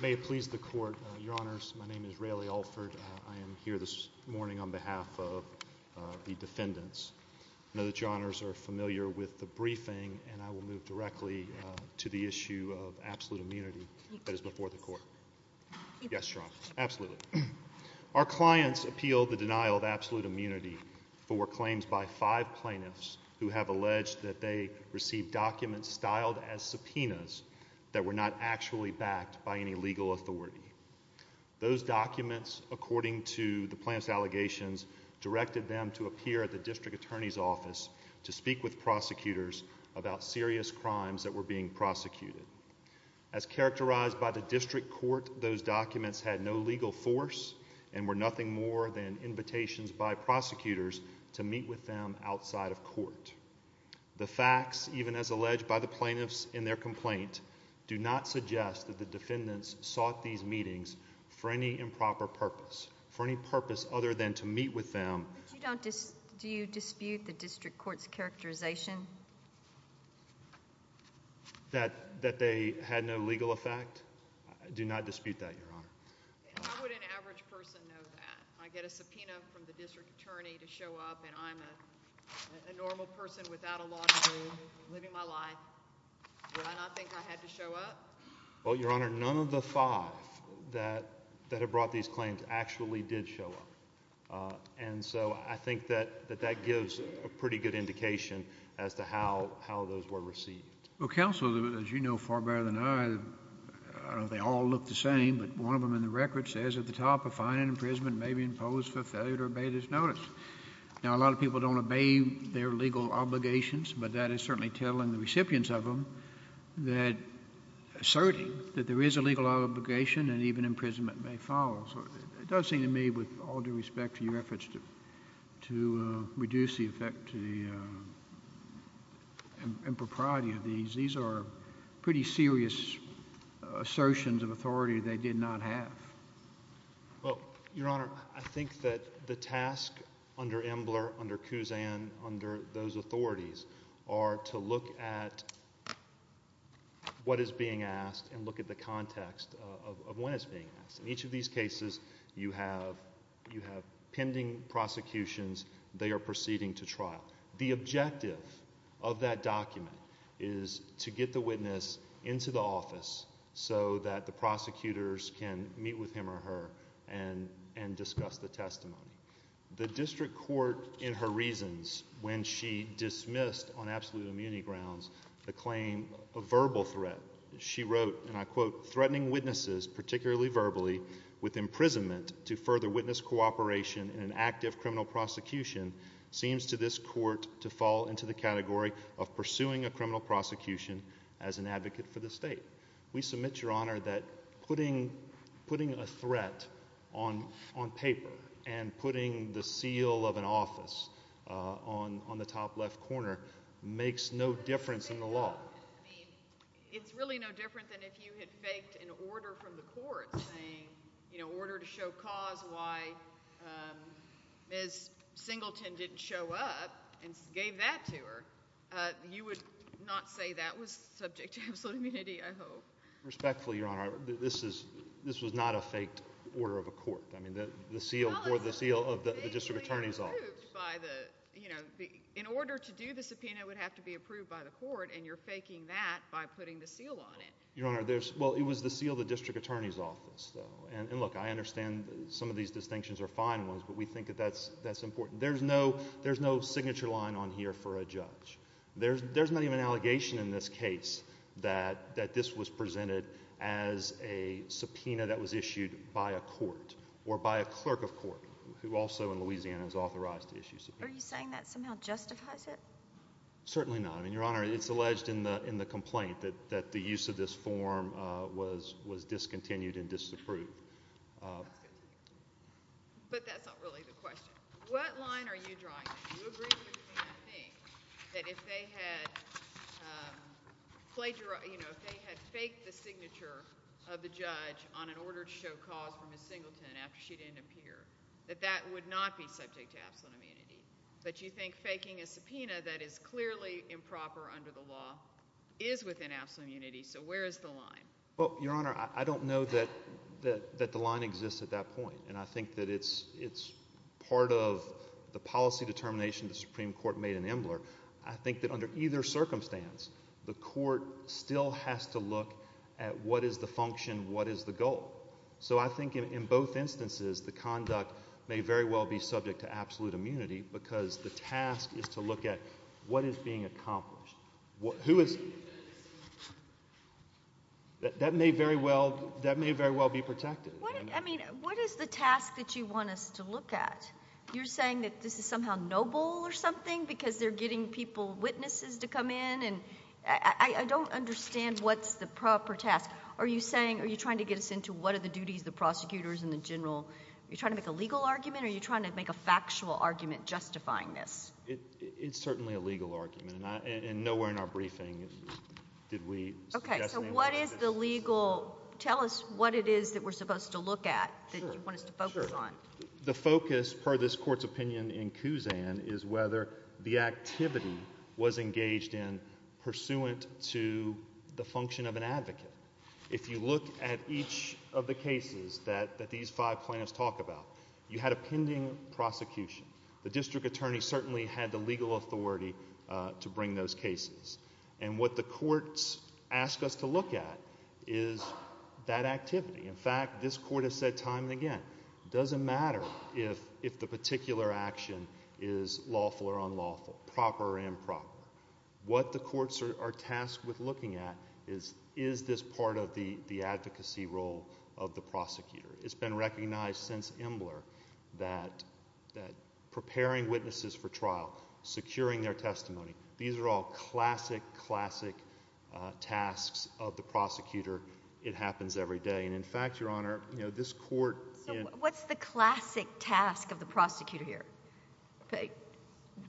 May it please the court, your honors, my name is Rayleigh Alford. I am here this morning on behalf of the defendants. I know that your honors are familiar with the briefing and I will move directly to the issue of absolute immunity that is before the court. Yes, your honor, absolutely. Our clients appealed the denial of absolute immunity for claims by five plaintiffs who have alleged that they received documents styled as subpoenas that were not actually backed by any legal authority. Those documents, according to the plaintiff's allegations, directed them to appear at the district attorney's office to speak with prosecutors about serious crimes that were being prosecuted. As characterized by the district court, those documents had no legal force and were nothing more than invitations by prosecutors to meet with them outside of court. The facts, even as alleged by the plaintiffs in their complaint, do not suggest that the defendants sought these meetings for any improper purpose, for any purpose other than to meet with them. Do you dispute the district court's characterization? That they had no legal effect? I do not dispute that, your honor. How would an average person know that? I get a subpoena from the district attorney to show up and I'm a normal person without a law degree, living my life. Would I not think I had to show up? Well, your honor, none of the five that have brought these claims actually did show up. And so I think that that gives a pretty good indication as to how those were received. Well, counsel, as you know far better than I, they all look the same, but one of them in the record says at the top, a fine in imprisonment may be imposed for failure to obey this notice. Now, a lot of people don't obey their legal obligations, but that is certainly telling the recipients of them that, asserting that there is a legal obligation and even imprisonment may follow. So it does seem to me with all due respect to your efforts to reduce the effect to the impropriety of these, these are pretty serious assertions of authority they did not have. Well, your honor, I think that the task under Embler, under Kuzan, under those authorities are to look at what is being asked and look at the context of when it's being asked. In each of these cases, you have pending prosecutions, they are proceeding to trial. The objective of that document is to get the witness into the office so that the prosecutors can meet with him or her and discuss the testimony. The district court, in her reasons, when she dismissed on absolute immunity grounds the claim of verbal threat, she wrote, and I quote, threatening witnesses, particularly verbally, with imprisonment to further witness cooperation in an active criminal prosecution seems to this court to fall into the category of pursuing a criminal prosecution as an advocate for the state. We submit, your honor, that putting a threat on paper and putting the seal of an office on the top left corner makes no difference in the law. I mean, it's really no different than if you had faked an order from the court saying, you know, order to show cause why Ms. Singleton didn't show up and gave that to her. You would not say that was subject to absolute immunity, I hope. Respectfully, your honor, this is, this was not a faked order of a court. I mean, the seal, or the seal of the district attorney's office. It was approved by the, you know, in order to do the subpoena, it would have to be approved by the court, and you're faking that by putting the seal on it. Your honor, there's, well, it was the seal of the district attorney's office, though, and look, I understand some of these distinctions are fine ones, but we think that that's important. There's no, there's no signature line on here for a judge. There's not even an allegation in this case that this was presented as a subpoena that was issued by a court, or by a clerk of court, who also in Louisiana is authorized to issue subpoenas. Are you saying that somehow justifies it? Certainly not. I mean, your honor, it's alleged in the complaint that the use of this form was discontinued and disapproved. But that's not really the question. What line are you drawing? Do you agree with me that if they had plagiarized, you know, if they had faked the signature of the judge on an order to show cause for Ms. Singleton after she didn't appear, that that would not be subject to absolute immunity? But you think faking a subpoena that is clearly improper under the law is within absolute immunity, so where is the line? Well, your honor, I don't know that the line exists at that point, and I think that it's part of the policy determination the Supreme Court made in Embler. I think that under either circumstance, the court still has to look at what is the function, what is the goal. So I think in both instances, the conduct may very well be subject to absolute immunity because the task is to look at what is being accomplished. That may very well be protected. I mean, what is the task that you want us to look at? You're saying that this is somehow noble or something because they're getting people, witnesses to come in, and I don't understand what's the proper task. Are you saying, are you trying to get us into what are the duties of the prosecutors and the general? Are you trying to make a legal argument or are you trying to make a factual argument justifying this? It's certainly a legal argument, and nowhere in our briefing did we suggest anything like this. Okay, so what is the legal, tell us what it is that we're supposed to look at that you want us to focus on. The focus, per this court's opinion in Kuzan, is whether the activity was engaged in pursuant to the function of an advocate. If you look at each of the cases that these five plaintiffs talk about, you had a pending prosecution. The district attorney certainly had the legal authority to bring those cases. And what the courts ask us to look at is that activity. In fact, this court has said time and again, it doesn't matter if the particular action is lawful or unlawful, proper or improper. What the courts are tasked with looking at is, is this part of the advocacy role of the prosecutor? It's been recognized since Imbler that preparing witnesses for trial, securing their testimony, these are all classic, classic tasks of the prosecutor. It happens every day. And in fact, Your Honor, you know, this court— So what's the classic task of the prosecutor here?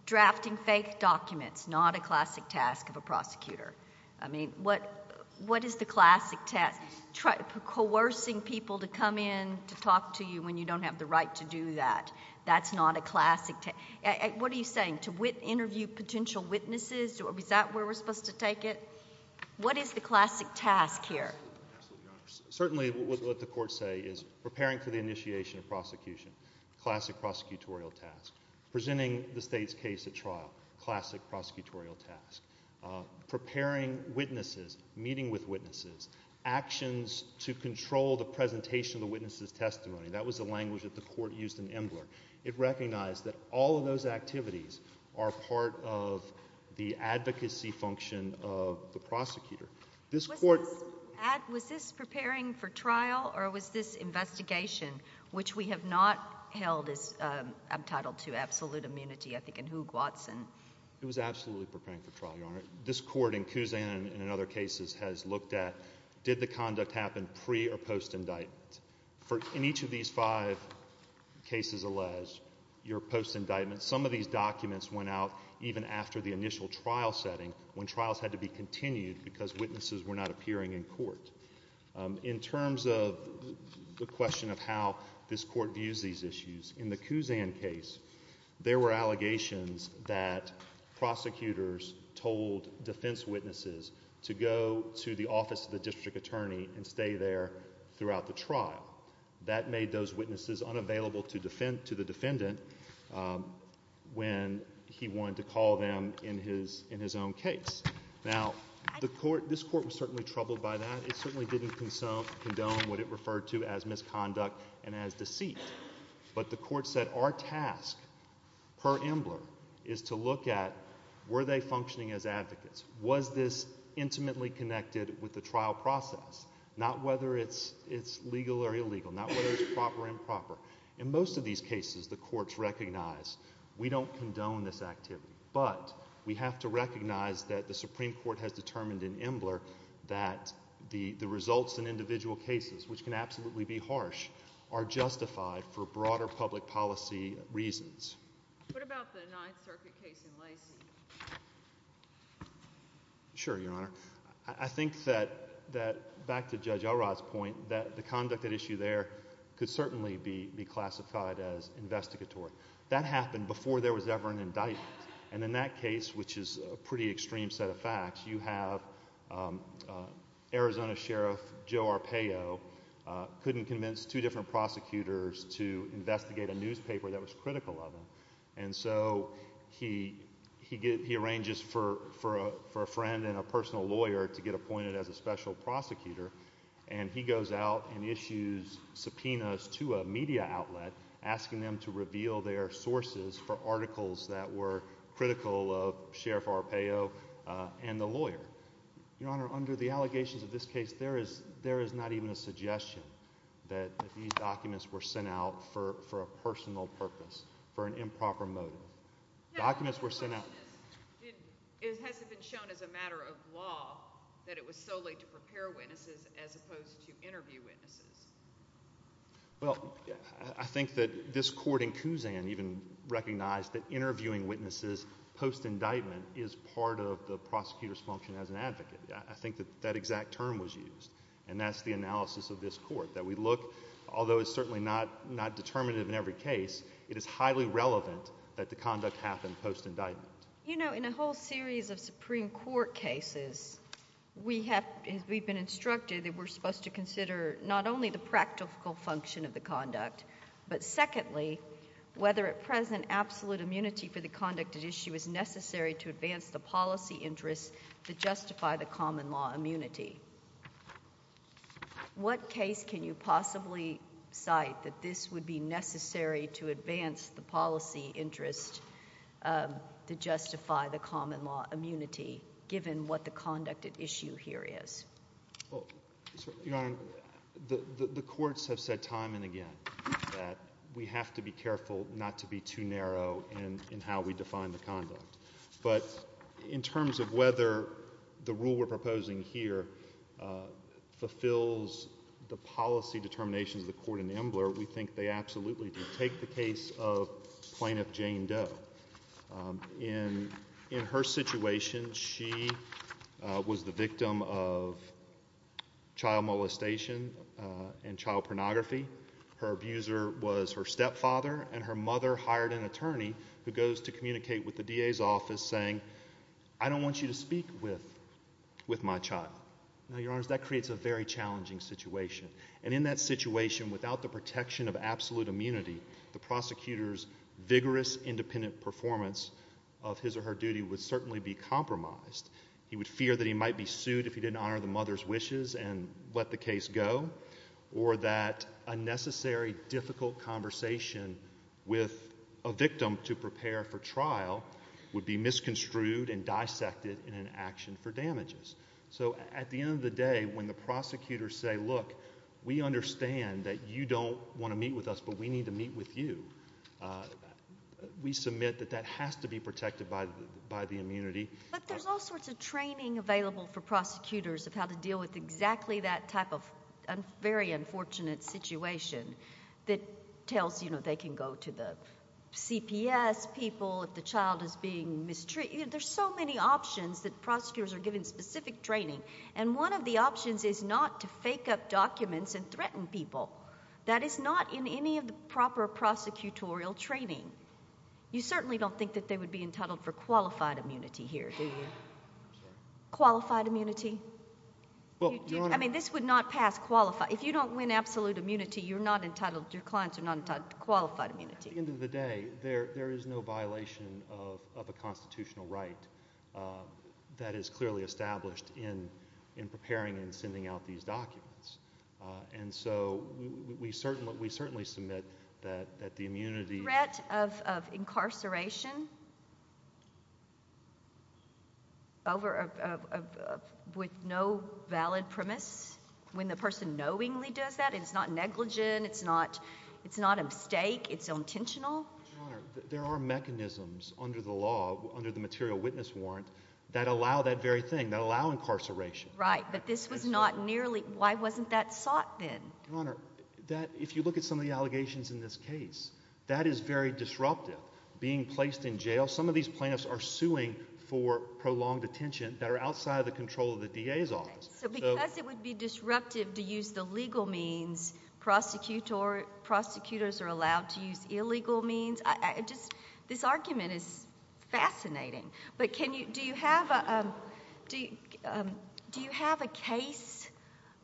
Drafting fake documents, not a classic task of a prosecutor. I mean, what is the classic task? Coercing people to come in to talk to you when you don't have the right to do that, that's not a classic task. What are you saying? To interview potential witnesses? Is that where we're supposed to take it? What is the classic task here? Certainly what the courts say is preparing for the initiation of prosecution, classic prosecutorial task. Presenting the state's case at trial, classic prosecutorial task. Preparing witnesses, meeting with witnesses, actions to control the presentation of the witness's testimony. That was the language that the court used in Imbler. It recognized that all of those activities are part of the advocacy function of the prosecutor. This court— Was this preparing for trial or was this investigation, which we have not held as entitled to absolute immunity, I think in Hoog-Watson? It was absolutely preparing for trial, Your Honor. This court in Kuzan and in other cases has looked at did the conduct happen pre- or post-indictment. In each of these five cases alleged, your post-indictment, some of these documents went out even after the initial trial setting when trials had to be continued because witnesses were not appearing in court. In terms of the question of how this court views these issues, in the Kuzan case, there were allegations that prosecutors told defense witnesses to go to the office of the district attorney and stay there throughout the trial. That made those witnesses unavailable to the defendant when he wanted to call them in his own case. Now, this court was certainly troubled by that. It certainly didn't condone what it referred to as misconduct and as deceit. But the court said our task per Embler is to look at were they functioning as advocates? Was this intimately connected with the trial process? Not whether it's legal or illegal, not whether it's proper or improper. In most of these cases, the courts recognize we don't condone this activity, but we have to recognize that the Supreme Court has determined in Embler that the results in individual cases, which can absolutely be harsh, are justified for broader public policy reasons. What about the Ninth Circuit case in Lacey? Sure, Your Honor. I think that, back to Judge Elrod's point, that the conduct at issue there could certainly be classified as investigatory. That happened before there was ever an indictment, and in that case, which is a pretty extreme set of facts, you have Arizona Sheriff Joe Arpaio couldn't convince two different prosecutors to investigate a newspaper that was critical of him. And so he arranges for a friend and a personal lawyer to get appointed as a special prosecutor, and he goes out and issues subpoenas to a media outlet asking them to reveal their sources for articles that were critical of Sheriff Arpaio. And the lawyer. Your Honor, under the allegations of this case, there is not even a suggestion that these documents were sent out for a personal purpose, for an improper motive. The question is, has it been shown as a matter of law that it was solely to prepare witnesses as opposed to interview witnesses? Well, I think that this court in Kuzan even recognized that interviewing witnesses post-indictment is part of the prosecutor's function as an advocate. I think that that exact term was used, and that's the analysis of this court. That we look, although it's certainly not determinative in every case, it is highly relevant that the conduct happen post-indictment. You know, in a whole series of Supreme Court cases, we have been instructed that we're supposed to consider not only the practical function of the conduct, but secondly, whether at present absolute immunity for the conduct at issue is necessary to advance the policy interest to justify the common law immunity. What case can you possibly cite that this would be necessary to advance the policy interest to justify the common law immunity, given what the conduct at issue here is? Well, Your Honor, the courts have said time and again that we have to be careful not to be too narrow in how we define the conduct. But in terms of whether the rule we're proposing here fulfills the policy determinations of the court in Embler, we think they absolutely do. Take the case of Plaintiff Jane Doe. In her situation, she was the victim of child molestation and child pornography. Her abuser was her stepfather, and her mother hired an attorney who goes to communicate with the DA's office saying, I don't want you to speak with my child. Now, Your Honors, that creates a very challenging situation. And in that situation, without the protection of absolute immunity, the prosecutor's vigorous independent performance of his or her duty would certainly be compromised. He would fear that he might be sued if he didn't honor the mother's wishes and let the case go, or that a necessary difficult conversation with a victim to prepare for trial would be misconstrued and dissected in an action for damages. So at the end of the day, when the prosecutors say, look, we understand that you don't want to meet with us, but we need to meet with you, we submit that that has to be protected by the immunity. But there's all sorts of training available for prosecutors of how to deal with exactly that type of very unfortunate situation that tells, you know, they can go to the CPS people if the child is being mistreated. There's so many options that prosecutors are given specific training, and one of the options is not to fake up documents and threaten people. That is not in any of the proper prosecutorial training. You certainly don't think that they would be entitled for qualified immunity here, do you? Qualified immunity? I mean, this would not pass qualified. If you don't win absolute immunity, you're not entitled, your clients are not entitled to qualified immunity. At the end of the day, there is no violation of a constitutional right that is clearly established in preparing and sending out these documents. And so we certainly submit that the immunity— Threat of incarceration with no valid premise, when the person knowingly does that, it's not negligent, it's not a mistake, it's intentional? Your Honor, there are mechanisms under the law, under the material witness warrant, that allow that very thing, that allow incarceration. Right, but this was not nearly—why wasn't that sought then? Your Honor, if you look at some of the allegations in this case, that is very disruptive, being placed in jail. Some of these plaintiffs are suing for prolonged detention that are outside of the control of the DA's office. So because it would be disruptive to use the legal means, prosecutors are allowed to use illegal means? This argument is fascinating. But do you have a case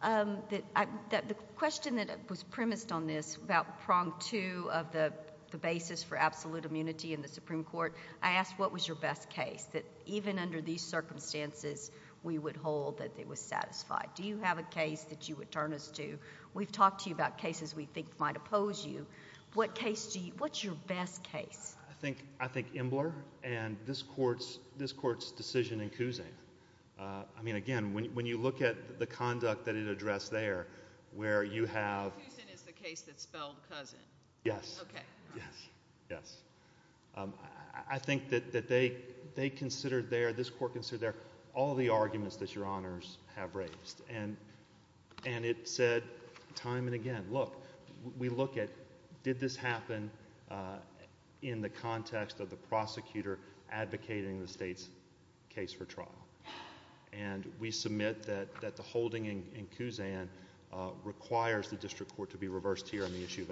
that—the question that was premised on this about prong two of the basis for absolute immunity in the Supreme Court, I asked what was your best case that even under these circumstances, we would hold that it was satisfied? Do you have a case that you would turn us to? We've talked to you about cases we think might oppose you. What case do you—what's your best case? I think Imbler and this Court's decision in Cousin. I mean, again, when you look at the conduct that it addressed there, where you have— Cousin is the case that spelled Cousin? Yes. Okay. Yes. I think that they considered there, this Court considered there, all the arguments that Your Honors have raised. And it said time and again, look, we look at did this happen in the context of the prosecutor advocating the state's case for trial? And we submit that the holding in Cousin requires the district court to be reversed here on the issue of absolute—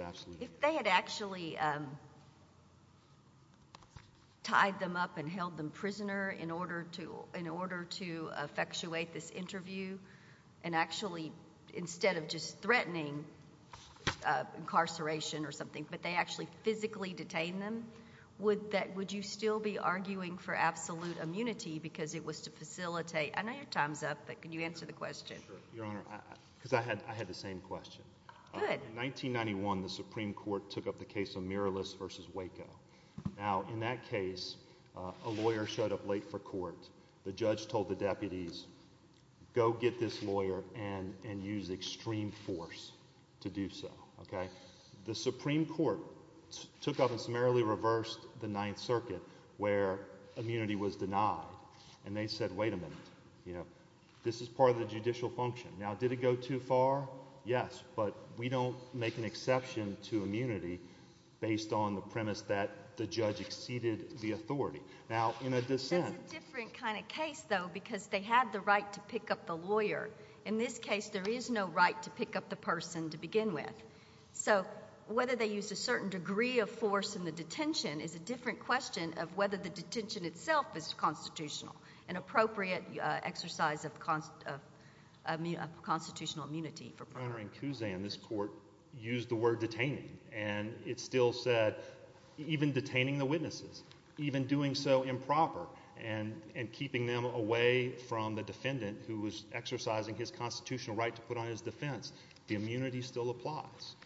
and actually, instead of just threatening incarceration or something, but they actually physically detained them? Would you still be arguing for absolute immunity because it was to facilitate—I know your time's up, but can you answer the question? Sure. Your Honor, because I had the same question. Good. In 1991, the Supreme Court took up the case of Miralis v. Waco. Now, in that case, a lawyer showed up late for court. The judge told the deputies, go get this lawyer and use extreme force to do so. Okay? The Supreme Court took up and summarily reversed the Ninth Circuit where immunity was denied. And they said, wait a minute, this is part of the judicial function. Now, did it go too far? Yes. But we don't make an exception to immunity based on the premise that the judge exceeded the authority. Now, in a dissent— That's a different kind of case, though, because they had the right to pick up the lawyer. In this case, there is no right to pick up the person to begin with. So whether they used a certain degree of force in the detention is a different question of whether the detention itself is constitutional, an appropriate exercise of constitutional immunity. Your Honor, in Kuzan, this court used the word detaining, and it still said even detaining the witnesses, even doing so improper and keeping them away from the defendant who was exercising his constitutional right to put on his defense, the immunity still applies.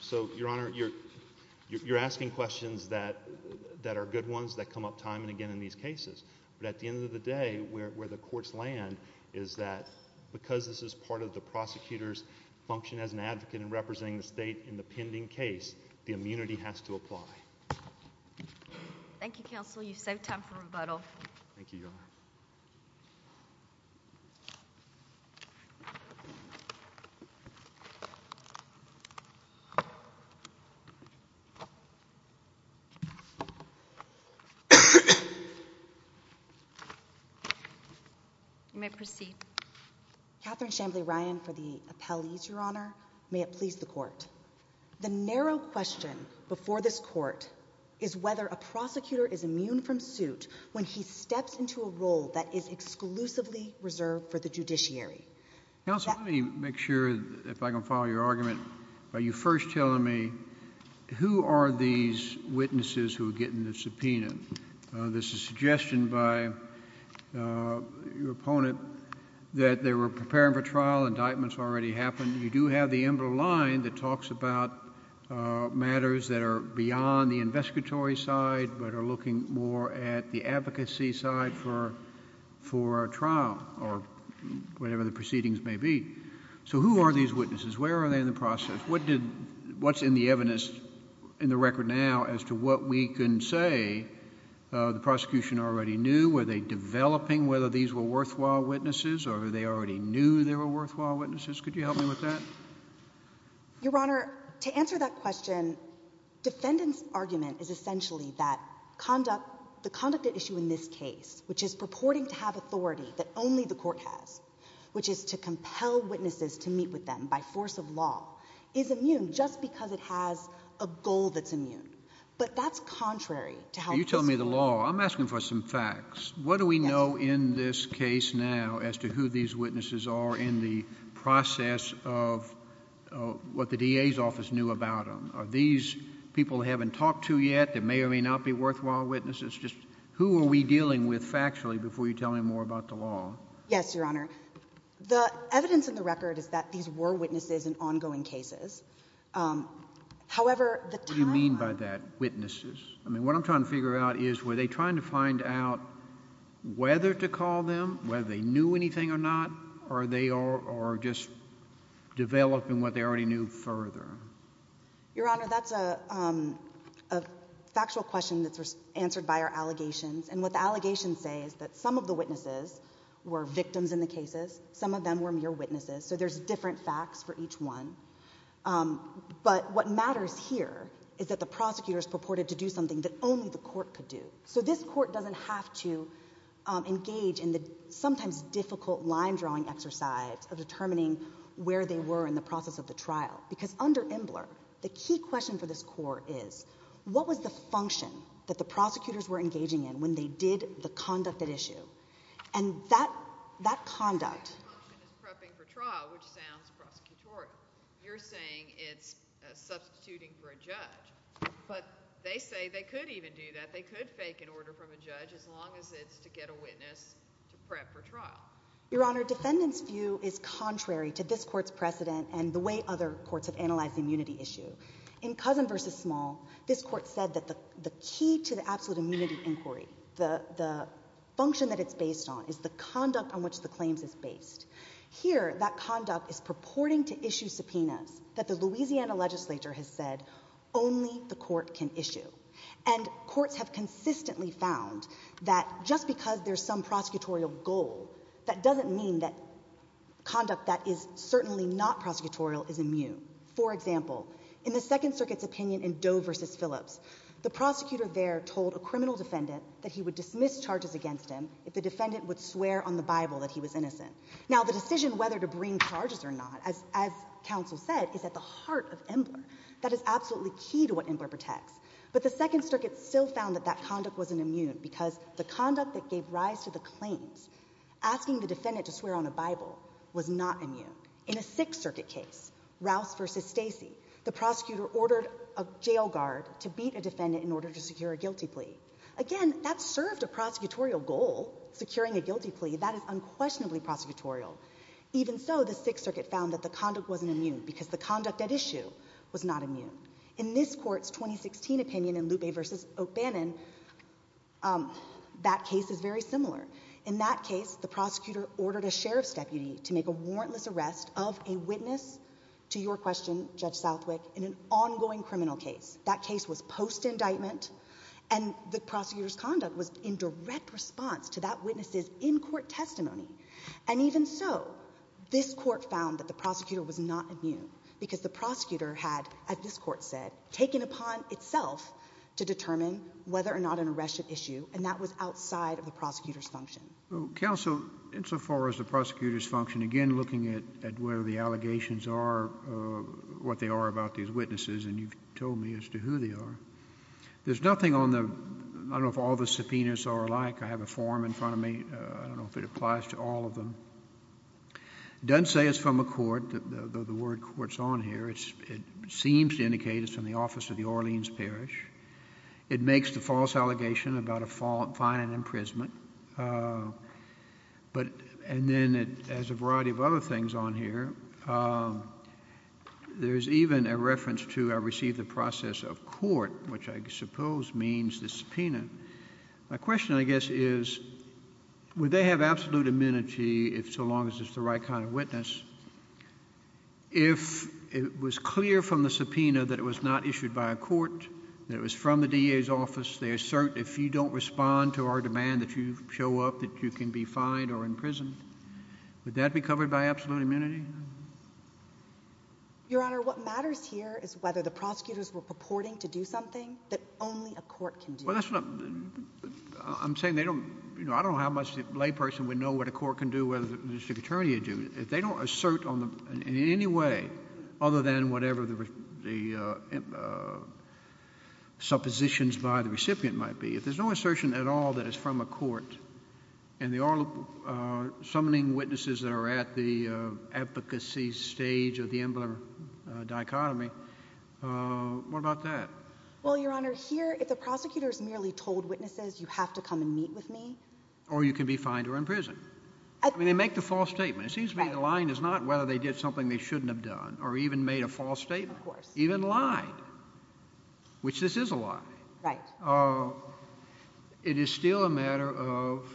So, Your Honor, you're asking questions that are good ones that come up time and again in these cases. But at the end of the day, where the courts land is that because this is part of the prosecutor's function as an advocate in representing the state in the pending case, the immunity has to apply. Thank you, Counsel. You've saved time for rebuttal. Thank you, Your Honor. You may proceed. Catherine Chamblee Ryan for the appellees, Your Honor. May it please the court. The narrow question before this court is whether a prosecutor is immune from suit when he steps into a role that is exclusively reserved for the judiciary. Counsel, let me make sure if I can follow your argument. Are you first telling me who are these witnesses who are getting the subpoena? This is a suggestion by your opponent that they were preparing for trial. Indictments already happened. You do have the emerald line that talks about matters that are beyond the investigatory side but are looking more at the advocacy side for trial or whatever the proceedings may be. So who are these witnesses? Where are they in the process? What's in the evidence in the record now as to what we can say? The prosecution already knew. Were they developing whether these were worthwhile witnesses or they already knew they were worthwhile witnesses? Could you help me with that? Your Honor, to answer that question, defendant's argument is essentially that the conduct at issue in this case, which is purporting to have authority that only the court has, which is to compel witnesses to meet with them by force of law, is immune just because it has a goal that's immune. But that's contrary to how this would work. You're telling me the law. I'm asking for some facts. What do we know in this case now as to who these witnesses are in the process of what the DA's office knew about them? Are these people they haven't talked to yet that may or may not be worthwhile witnesses? Who are we dealing with factually before you tell me more about the law? Yes, Your Honor. The evidence in the record is that these were witnesses in ongoing cases. However, the time— What do you mean by that, witnesses? I mean, what I'm trying to figure out is were they trying to find out whether to call them, whether they knew anything or not, or are they just developing what they already knew further? Your Honor, that's a factual question that's answered by our allegations. And what the allegations say is that some of the witnesses were victims in the cases. Some of them were mere witnesses. So there's different facts for each one. But what matters here is that the prosecutors purported to do something that only the court could do. So this court doesn't have to engage in the sometimes difficult line-drawing exercise of determining where they were in the process of the trial. Because under Imbler, the key question for this court is, what was the function that the prosecutors were engaging in when they did the conduct at issue? And that conduct— That function is prepping for trial, which sounds prosecutorial. You're saying it's substituting for a judge. But they say they could even do that. They could fake an order from a judge as long as it's to get a witness to prep for trial. Your Honor, defendants' view is contrary to this court's precedent and the way other courts have analyzed the immunity issue. In Cousin v. Small, this court said that the key to the absolute immunity inquiry, the function that it's based on, is the conduct on which the claims is based. Here, that conduct is purporting to issue subpoenas that the Louisiana legislature has said only the court can issue. And courts have consistently found that just because there's some prosecutorial goal, that doesn't mean that conduct that is certainly not prosecutorial is immune. For example, in the Second Circuit's opinion in Doe v. Phillips, the prosecutor there told a criminal defendant that he would dismiss charges against him if the defendant would swear on the Bible that he was innocent. Now, the decision whether to bring charges or not, as counsel said, is at the heart of Embler. That is absolutely key to what Embler protects. But the Second Circuit still found that that conduct wasn't immune because the conduct that gave rise to the claims, asking the defendant to swear on a Bible, was not immune. In a Sixth Circuit case, Rouse v. Stacey, the prosecutor ordered a jail guard to beat a defendant in order to secure a guilty plea. Again, that served a prosecutorial goal, securing a guilty plea. That is unquestionably prosecutorial. Even so, the Sixth Circuit found that the conduct wasn't immune because the conduct at issue was not immune. In this court's 2016 opinion in Lupe v. O'Bannon, that case is very similar. In that case, the prosecutor ordered a sheriff's deputy to make a warrantless arrest of a witness, to your question, Judge Southwick, in an ongoing criminal case. That case was post-indictment, and the prosecutor's conduct was in direct response to that witness's in-court testimony. And even so, this court found that the prosecutor was not immune because the prosecutor had, as this court said, taken upon itself to determine whether or not an arrest should issue, and that was outside of the prosecutor's function. Counsel, insofar as the prosecutor's function, again, looking at where the allegations are, what they are about these witnesses, and you've told me as to who they are, there's nothing on the—I don't know if all the subpoenas are alike. I have a form in front of me. I don't know if it applies to all of them. It doesn't say it's from a court. The word court's on here. It seems to indicate it's from the office of the Orleans Parish. It makes the false allegation about a fine and imprisonment, but—and then it has a variety of other things on here. There's even a reference to I received the process of court, which I suppose means the subpoena. My question, I guess, is would they have absolute immunity so long as it's the right kind of witness? If it was clear from the subpoena that it was not issued by a court, that it was from the DA's office, they assert if you don't respond to our demand that you show up, that you can be fined or imprisoned, would that be covered by absolute immunity? Your Honor, what matters here is whether the prosecutors were purporting to do something that only a court can do. Well, that's not—I'm saying they don't—you know, I don't know how much the layperson would know what a court can do, what a district attorney would do. If they don't assert in any way, other than whatever the suppositions by the recipient might be, if there's no assertion at all that it's from a court, and they are summoning witnesses that are at the advocacy stage of the Embler dichotomy, what about that? Well, Your Honor, here, if the prosecutor's merely told witnesses you have to come and meet with me— Or you can be fined or imprisoned. I mean, they make the false statement. It seems to me the line is not whether they did something they shouldn't have done, or even made a false statement, even lied, which this is a lie. Right. It is still a matter of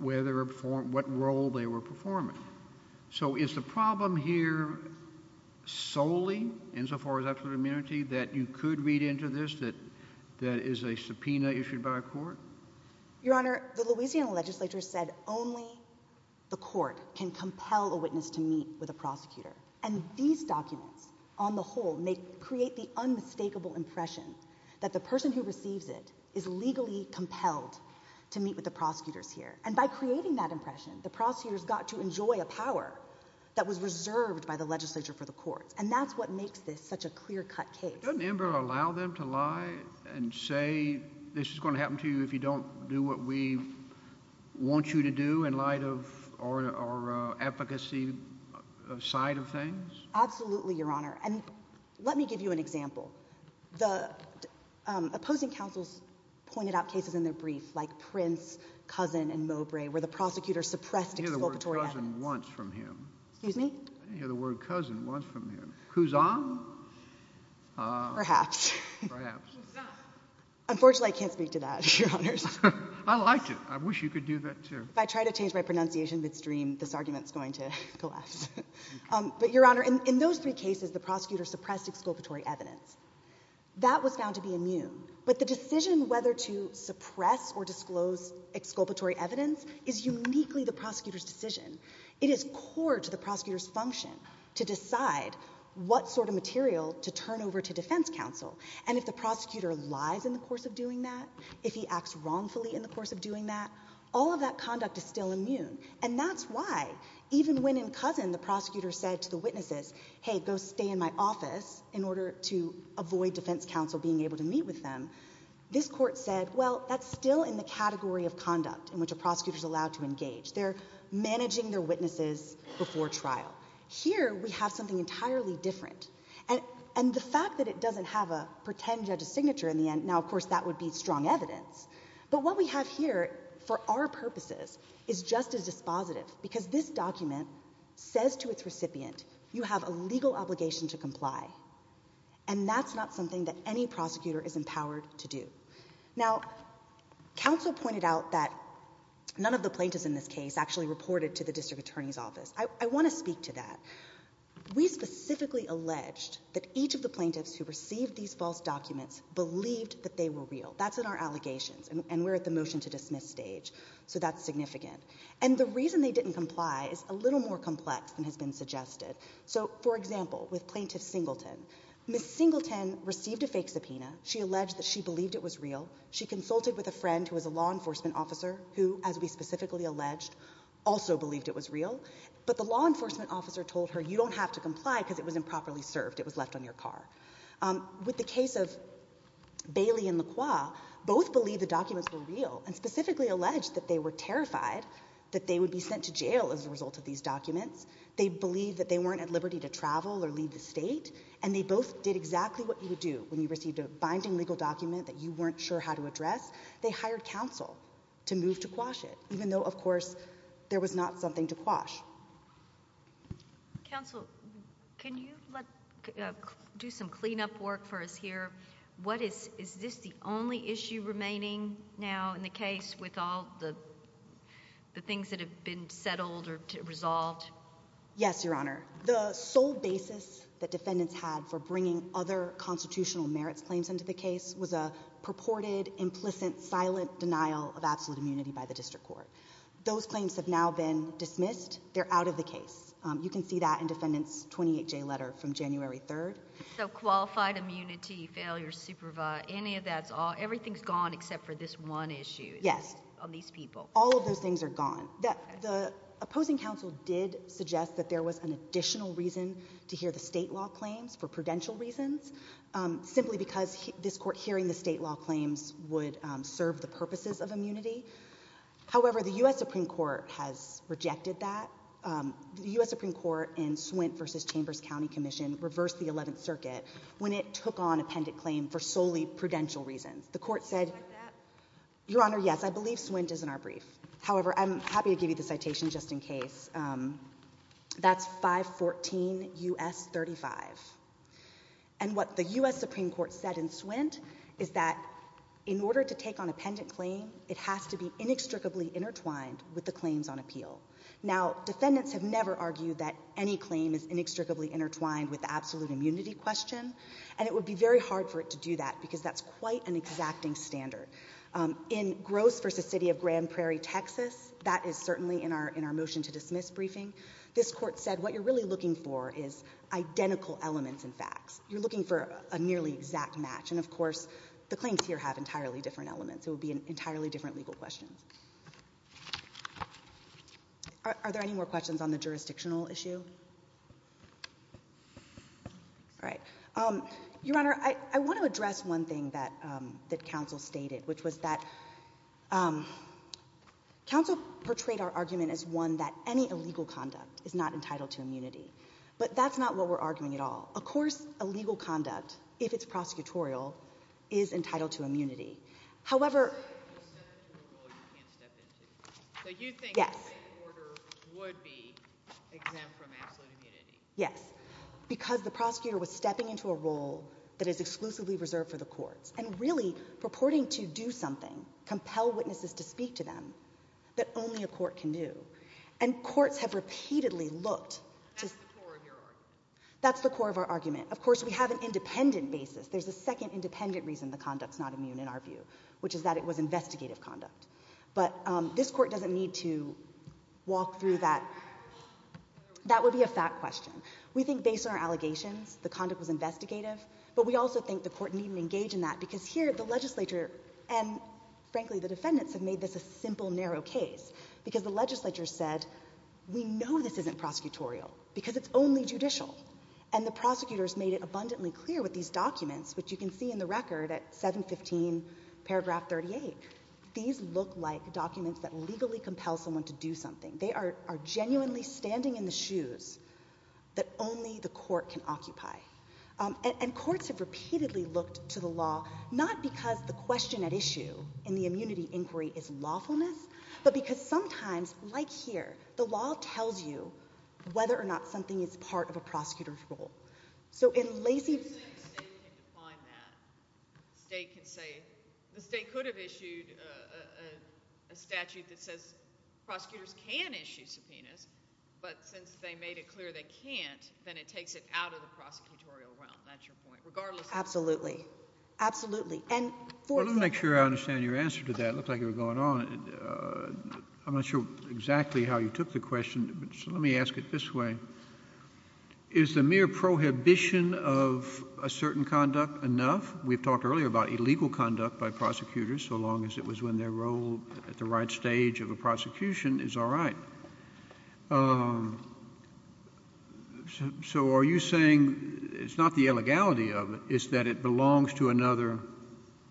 whether or what role they were performing. So is the problem here solely, insofar as absolute immunity, that you could read into this, that is a subpoena issued by a court? Your Honor, the Louisiana legislature said only the court can compel a witness to meet with a prosecutor. And these documents, on the whole, create the unmistakable impression that the person who receives it is legally compelled to meet with the prosecutors here. And by creating that impression, the prosecutors got to enjoy a power that was reserved by the legislature for the courts. And that's what makes this such a clear-cut case. Doesn't Ember allow them to lie and say, this is going to happen to you if you don't do what we want you to do, in light of our efficacy side of things? Absolutely, Your Honor. And let me give you an example. The opposing counsels pointed out cases in their brief, like Prince, Cousin, and Mowbray, where the prosecutor suppressed expropriatory evidence. I didn't hear the word cousin once from him. Excuse me? I didn't hear the word cousin once from him. Cousin? Perhaps. Perhaps. Cousin. Unfortunately, I can't speak to that, Your Honors. I liked it. I wish you could do that, too. If I try to change my pronunciation midstream, this argument is going to collapse. But, Your Honor, in those three cases, the prosecutor suppressed expropriatory evidence. That was found to be immune. But the decision whether to suppress or disclose expropriatory evidence is uniquely the prosecutor's decision. It is core to the prosecutor's function to decide what sort of material to turn over to defense counsel. And if the prosecutor lies in the course of doing that, if he acts wrongfully in the course of doing that, all of that conduct is still immune. And that's why, even when in Cousin the prosecutor said to the witnesses, hey, go stay in my office in order to avoid defense counsel being able to meet with them, this court said, well, that's still in the category of conduct in which a prosecutor is allowed to engage. They're managing their witnesses before trial. Here, we have something entirely different. And the fact that it doesn't have a pretend judge's signature in the end, now, of course, that would be strong evidence. But what we have here, for our purposes, is just as dispositive. Because this document says to its recipient, you have a legal obligation to comply. And that's not something that any prosecutor is empowered to do. Now, counsel pointed out that none of the plaintiffs in this case actually reported to the district attorney's office. I want to speak to that. We specifically alleged that each of the plaintiffs who received these false documents believed that they were real. That's in our allegations, and we're at the motion to dismiss stage. So that's significant. And the reason they didn't comply is a little more complex than has been suggested. So, for example, with Plaintiff Singleton, Ms. Singleton received a fake subpoena. She alleged that she believed it was real. She consulted with a friend who was a law enforcement officer who, as we specifically alleged, also believed it was real. But the law enforcement officer told her, you don't have to comply because it was improperly served. It was left on your car. With the case of Bailey and Lacroix, both believed the documents were real and specifically alleged that they were terrified that they would be sent to jail as a result of these documents. They believed that they weren't at liberty to travel or leave the state. And they both did exactly what you would do when you received a binding legal document that you weren't sure how to address. They hired counsel to move to quash it, even though, of course, there was not something to quash. Counsel, can you do some cleanup work for us here? Is this the only issue remaining now in the case with all the things that have been settled or resolved? Yes, Your Honor. The sole basis that defendants had for bringing other constitutional merits claims into the case was a purported, implicit, silent denial of absolute immunity by the district court. Those claims have now been dismissed. They're out of the case. You can see that in defendants' 28-J letter from January 3rd. So qualified immunity, failure to supervise, any of that's all, everything's gone except for this one issue. Yes. On these people. All of those things are gone. The opposing counsel did suggest that there was an additional reason to hear the state law claims for prudential reasons, simply because this court hearing the state law claims would serve the purposes of immunity. However, the U.S. Supreme Court has rejected that. The U.S. Supreme Court in Swint v. Chambers County Commission reversed the Eleventh Circuit when it took on appendant claim for solely prudential reasons. The court said— You don't like that? Your Honor, yes. I believe Swint is in our brief. However, I'm happy to give you the citation just in case. That's 514 U.S. 35. And what the U.S. Supreme Court said in Swint is that in order to take on appendant claim, it has to be inextricably intertwined with the claims on appeal. Now, defendants have never argued that any claim is inextricably intertwined with the absolute immunity question, and it would be very hard for it to do that because that's quite an exacting standard. In Gross v. City of Grand Prairie, Texas, that is certainly in our motion to dismiss briefing, this court said what you're really looking for is identical elements and facts. You're looking for a nearly exact match. And, of course, the claims here have entirely different elements. It would be entirely different legal questions. Are there any more questions on the jurisdictional issue? All right. Your Honor, I want to address one thing that counsel stated, which was that counsel portrayed our argument as one that any illegal conduct is not entitled to immunity. But that's not what we're arguing at all. Of course, illegal conduct, if it's prosecutorial, is entitled to immunity. However— So you think the same order would be exempt from absolute immunity? Yes, because the prosecutor was stepping into a role that is exclusively reserved for the courts and really purporting to do something, compel witnesses to speak to them, that only a court can do. And courts have repeatedly looked to— That's the core of your argument. That's the core of our argument. Of course, we have an independent basis. There's a second independent reason the conduct's not immune in our view, which is that it was investigative conduct. But this court doesn't need to walk through that. That would be a fact question. We think based on our allegations the conduct was investigative, but we also think the court needn't engage in that because here the legislature and, frankly, the defendants have made this a simple, narrow case because the legislature said, we know this isn't prosecutorial because it's only judicial. And the prosecutors made it abundantly clear with these documents, which you can see in the record at 715 paragraph 38. These look like documents that legally compel someone to do something. They are genuinely standing in the shoes that only the court can occupy. And courts have repeatedly looked to the law, not because the question at issue in the immunity inquiry is lawfulness, but because sometimes, like here, the law tells you whether or not something is part of a prosecutor's role. So in Lacey – The state can define that. The state could have issued a statute that says prosecutors can issue subpoenas, but since they made it clear they can't, then it takes it out of the prosecutorial realm. That's your point. Regardless – Absolutely. Absolutely. Well, let me make sure I understand your answer to that. It looked like you were going on. I'm not sure exactly how you took the question, but let me ask it this way. Is the mere prohibition of a certain conduct enough? We've talked earlier about illegal conduct by prosecutors, so long as it was when their role at the right stage of a prosecution is all right. So are you saying it's not the illegality of it, it's that it belongs to another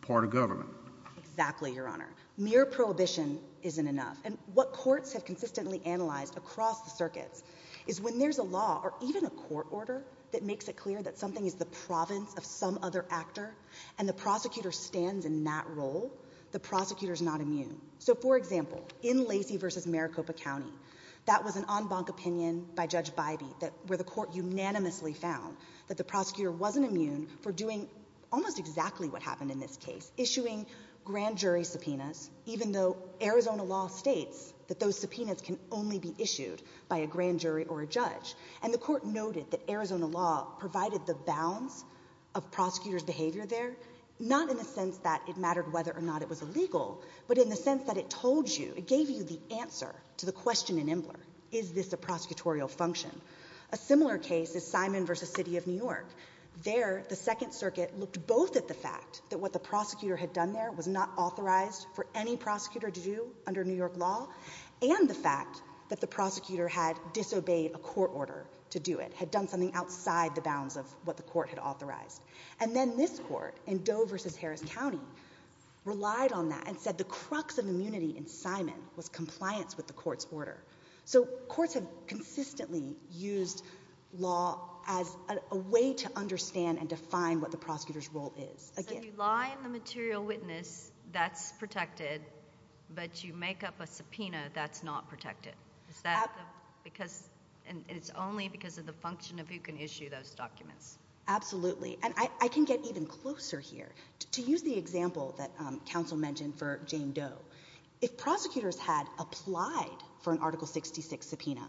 part of government? Exactly, Your Honor. Mere prohibition isn't enough. And what courts have consistently analyzed across the circuits is when there's a law or even a court order that makes it clear that something is the province of some other actor and the prosecutor stands in that role, the prosecutor's not immune. So, for example, in Lacey v. Maricopa County, that was an en banc opinion by Judge Bybee where the court unanimously found that the prosecutor wasn't immune for doing almost exactly what happened in this case, issuing grand jury subpoenas, even though Arizona law states that those subpoenas can only be issued by a grand jury or a judge. And the court noted that Arizona law provided the bounds of prosecutors' behavior there, not in the sense that it mattered whether or not it was illegal, but in the sense that it told you, it gave you the answer to the question in Imbler, is this a prosecutorial function? A similar case is Simon v. City of New York. There, the Second Circuit looked both at the fact that what the prosecutor had done there was not authorized for any prosecutor to do under New York law and the fact that the prosecutor had disobeyed a court order to do it, had done something outside the bounds of what the court had authorized. And then this court in Doe v. Harris County relied on that and said the crux of immunity in Simon was compliance with the court's order. So courts have consistently used law as a way to understand and define what the prosecutor's role is. So if you lie in the material witness, that's protected, but you make up a subpoena, that's not protected. And it's only because of the function of who can issue those documents. Absolutely. And I can get even closer here. To use the example that counsel mentioned for Jane Doe, if prosecutors had applied for an Article 66 subpoena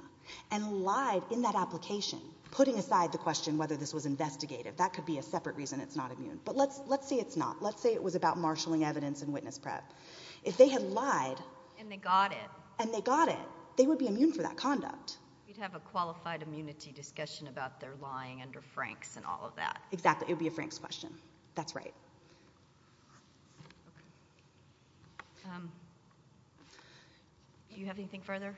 and lied in that application, putting aside the question whether this was investigative, that could be a separate reason it's not immune. But let's say it's not. Let's say it was about marshalling evidence in witness prep. If they had lied... And they got it. And they got it, they would be immune for that conduct. You'd have a qualified immunity discussion about their lying under Franks and all of that. Exactly. It would be a Franks question. That's right. Okay. Do you have anything further?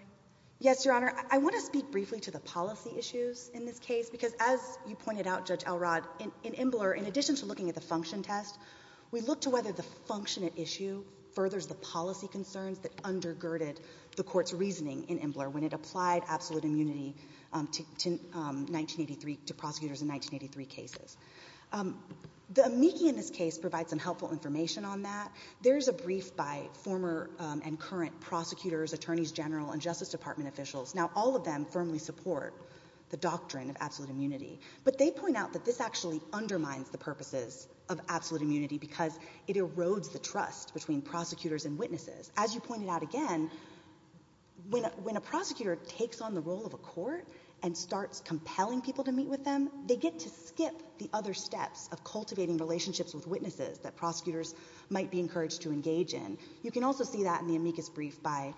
Yes, Your Honor. I want to speak briefly to the policy issues in this case, because as you pointed out, Judge Elrod, in Imbler, in addition to looking at the function test, we looked to whether the function at issue furthers the policy concerns that undergirded the court's reasoning in Imbler when it applied absolute immunity to prosecutors in 1983 cases. The amici in this case provide some helpful information on that. There's a brief by former and current prosecutors, attorneys general, and Justice Department officials. Now, all of them firmly support the doctrine of absolute immunity. But they point out that this actually undermines the purposes of absolute immunity because it erodes the trust between prosecutors and witnesses. As you pointed out again, when a prosecutor takes on the role of a court and starts compelling people to meet with them, they get to skip the other steps of cultivating relationships with witnesses that prosecutors might be encouraged to engage in. You can also see that in the amicus brief by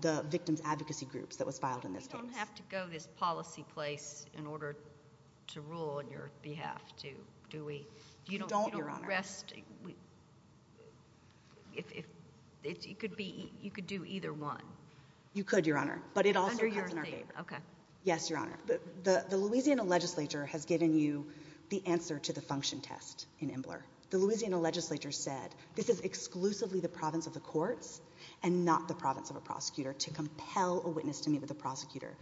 the victim's advocacy groups that was filed in this case. We don't have to go this policy place in order to rule on your behalf, do we? You don't, Your Honor. You could do either one. You could, Your Honor, but it also comes in our favor. Okay. Yes, Your Honor. The Louisiana legislature has given you the answer to the function test in Imbler. The Louisiana legislature said this is exclusively the province of the courts and not the province of a prosecutor to compel a witness to meet with a prosecutor.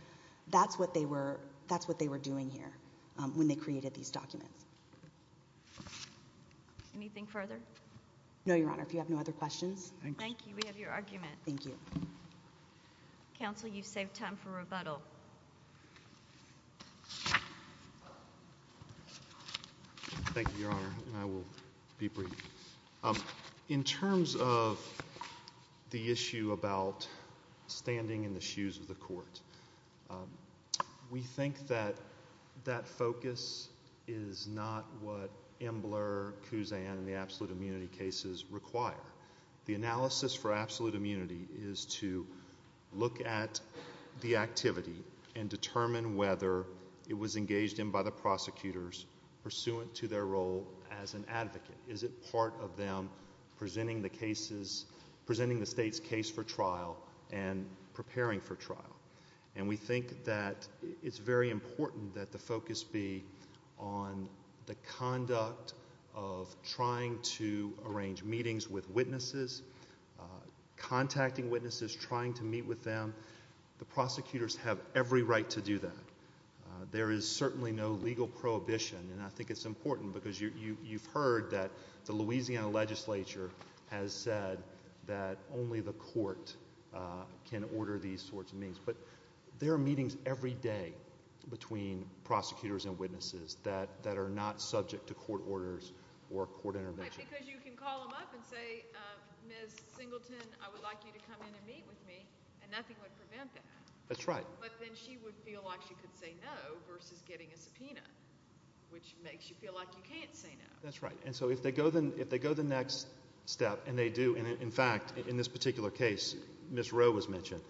That's what they were doing here when they created these documents. Anything further? No, Your Honor. If you have no other questions. Thank you. We have your argument. Thank you. Counsel, you've saved time for rebuttal. Thank you, Your Honor, and I will be brief. In terms of the issue about standing in the shoes of the court, we think that that focus is not what Imbler, Kuzan, and the absolute immunity cases require. The analysis for absolute immunity is to look at the activity and determine whether it was engaged in by the prosecutors pursuant to their role as an advocate. Is it part of them presenting the state's case for trial and preparing for trial? And we think that it's very important that the focus be on the conduct of trying to arrange meetings with witnesses, contacting witnesses, trying to meet with them. The prosecutors have every right to do that. There is certainly no legal prohibition, and I think it's important because you've heard that the Louisiana legislature has said that only the court can order these sorts of meetings. But there are meetings every day between prosecutors and witnesses that are not subject to court orders or court intervention. Because you can call them up and say, Ms. Singleton, I would like you to come in and meet with me, and nothing would prevent that. That's right. But then she would feel like she could say no versus getting a subpoena, which makes you feel like you can't say no. That's right. And so if they go the next step, and they do, and in fact in this particular case Ms. Rowe was mentioned,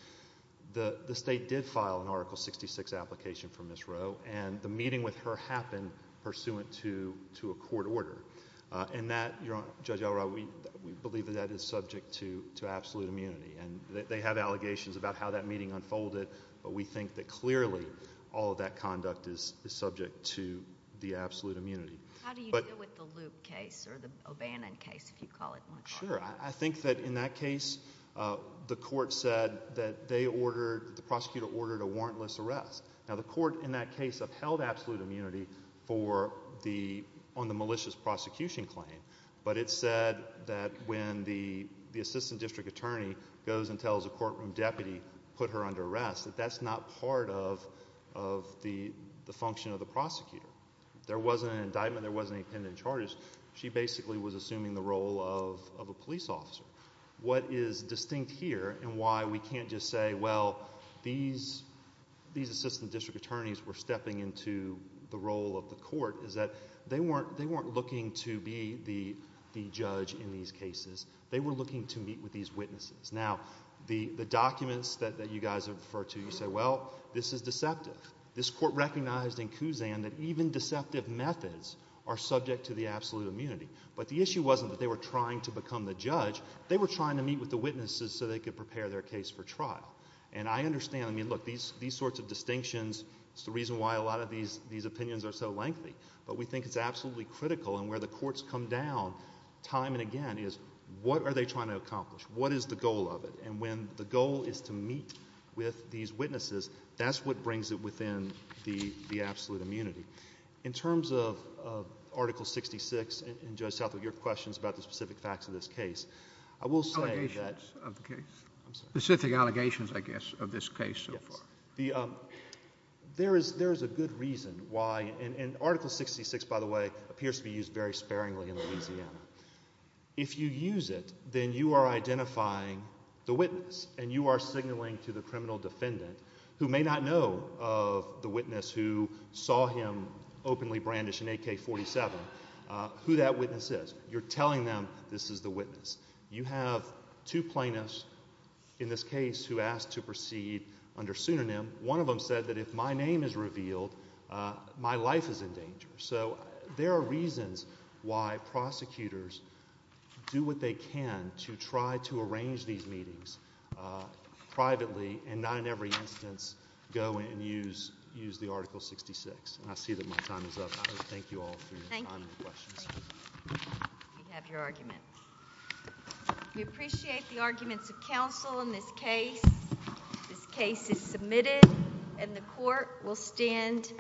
the state did file an Article 66 application for Ms. Rowe, and the meeting with her happened pursuant to a court order. And that, Judge Elrod, we believe that that is subject to absolute immunity. And they have allegations about how that meeting unfolded, but we think that clearly all of that conduct is subject to the absolute immunity. How do you deal with the Loop case or the O'Bannon case, if you call it? Sure. I think that in that case the court said that they ordered, the prosecutor ordered a warrantless arrest. Now the court in that case upheld absolute immunity on the malicious prosecution claim, but it said that when the assistant district attorney goes and tells a courtroom deputy, put her under arrest, that that's not part of the function of the prosecutor. There wasn't an indictment. There wasn't any pending charges. She basically was assuming the role of a police officer. What is distinct here and why we can't just say, well, these assistant district attorneys were stepping into the role of the court, is that they weren't looking to be the judge in these cases. They were looking to meet with these witnesses. Now, the documents that you guys have referred to, you say, well, this is deceptive. This court recognized in Kuzan that even deceptive methods are subject to the absolute immunity. But the issue wasn't that they were trying to become the judge. They were trying to meet with the witnesses so they could prepare their case for trial. And I understand. I mean, look, these sorts of distinctions is the reason why a lot of these opinions are so lengthy. But we think it's absolutely critical, and where the courts come down time and again is, what are they trying to accomplish? What is the goal of it? And when the goal is to meet with these witnesses, that's what brings it within the absolute immunity. In terms of Article 66, and Judge Southwood, your questions about the specific facts of this case, I will say that Allegations of the case. I'm sorry. Specific allegations, I guess, of this case so far. Yes. There is a good reason why, and Article 66, by the way, appears to be used very sparingly in Louisiana. If you use it, then you are identifying the witness, and you are signaling to the criminal defendant, who may not know of the witness who saw him openly brandish an AK-47, who that witness is. You're telling them this is the witness. You have two plaintiffs in this case who asked to proceed under pseudonym. One of them said that if my name is revealed, my life is in danger. So there are reasons why prosecutors do what they can to try to arrange these meetings privately, and not in every instance go and use the Article 66. And I see that my time is up. Thank you all for your time and questions. Thank you. We have your argument. We appreciate the arguments of counsel in this case. This case is submitted, and the court will stand.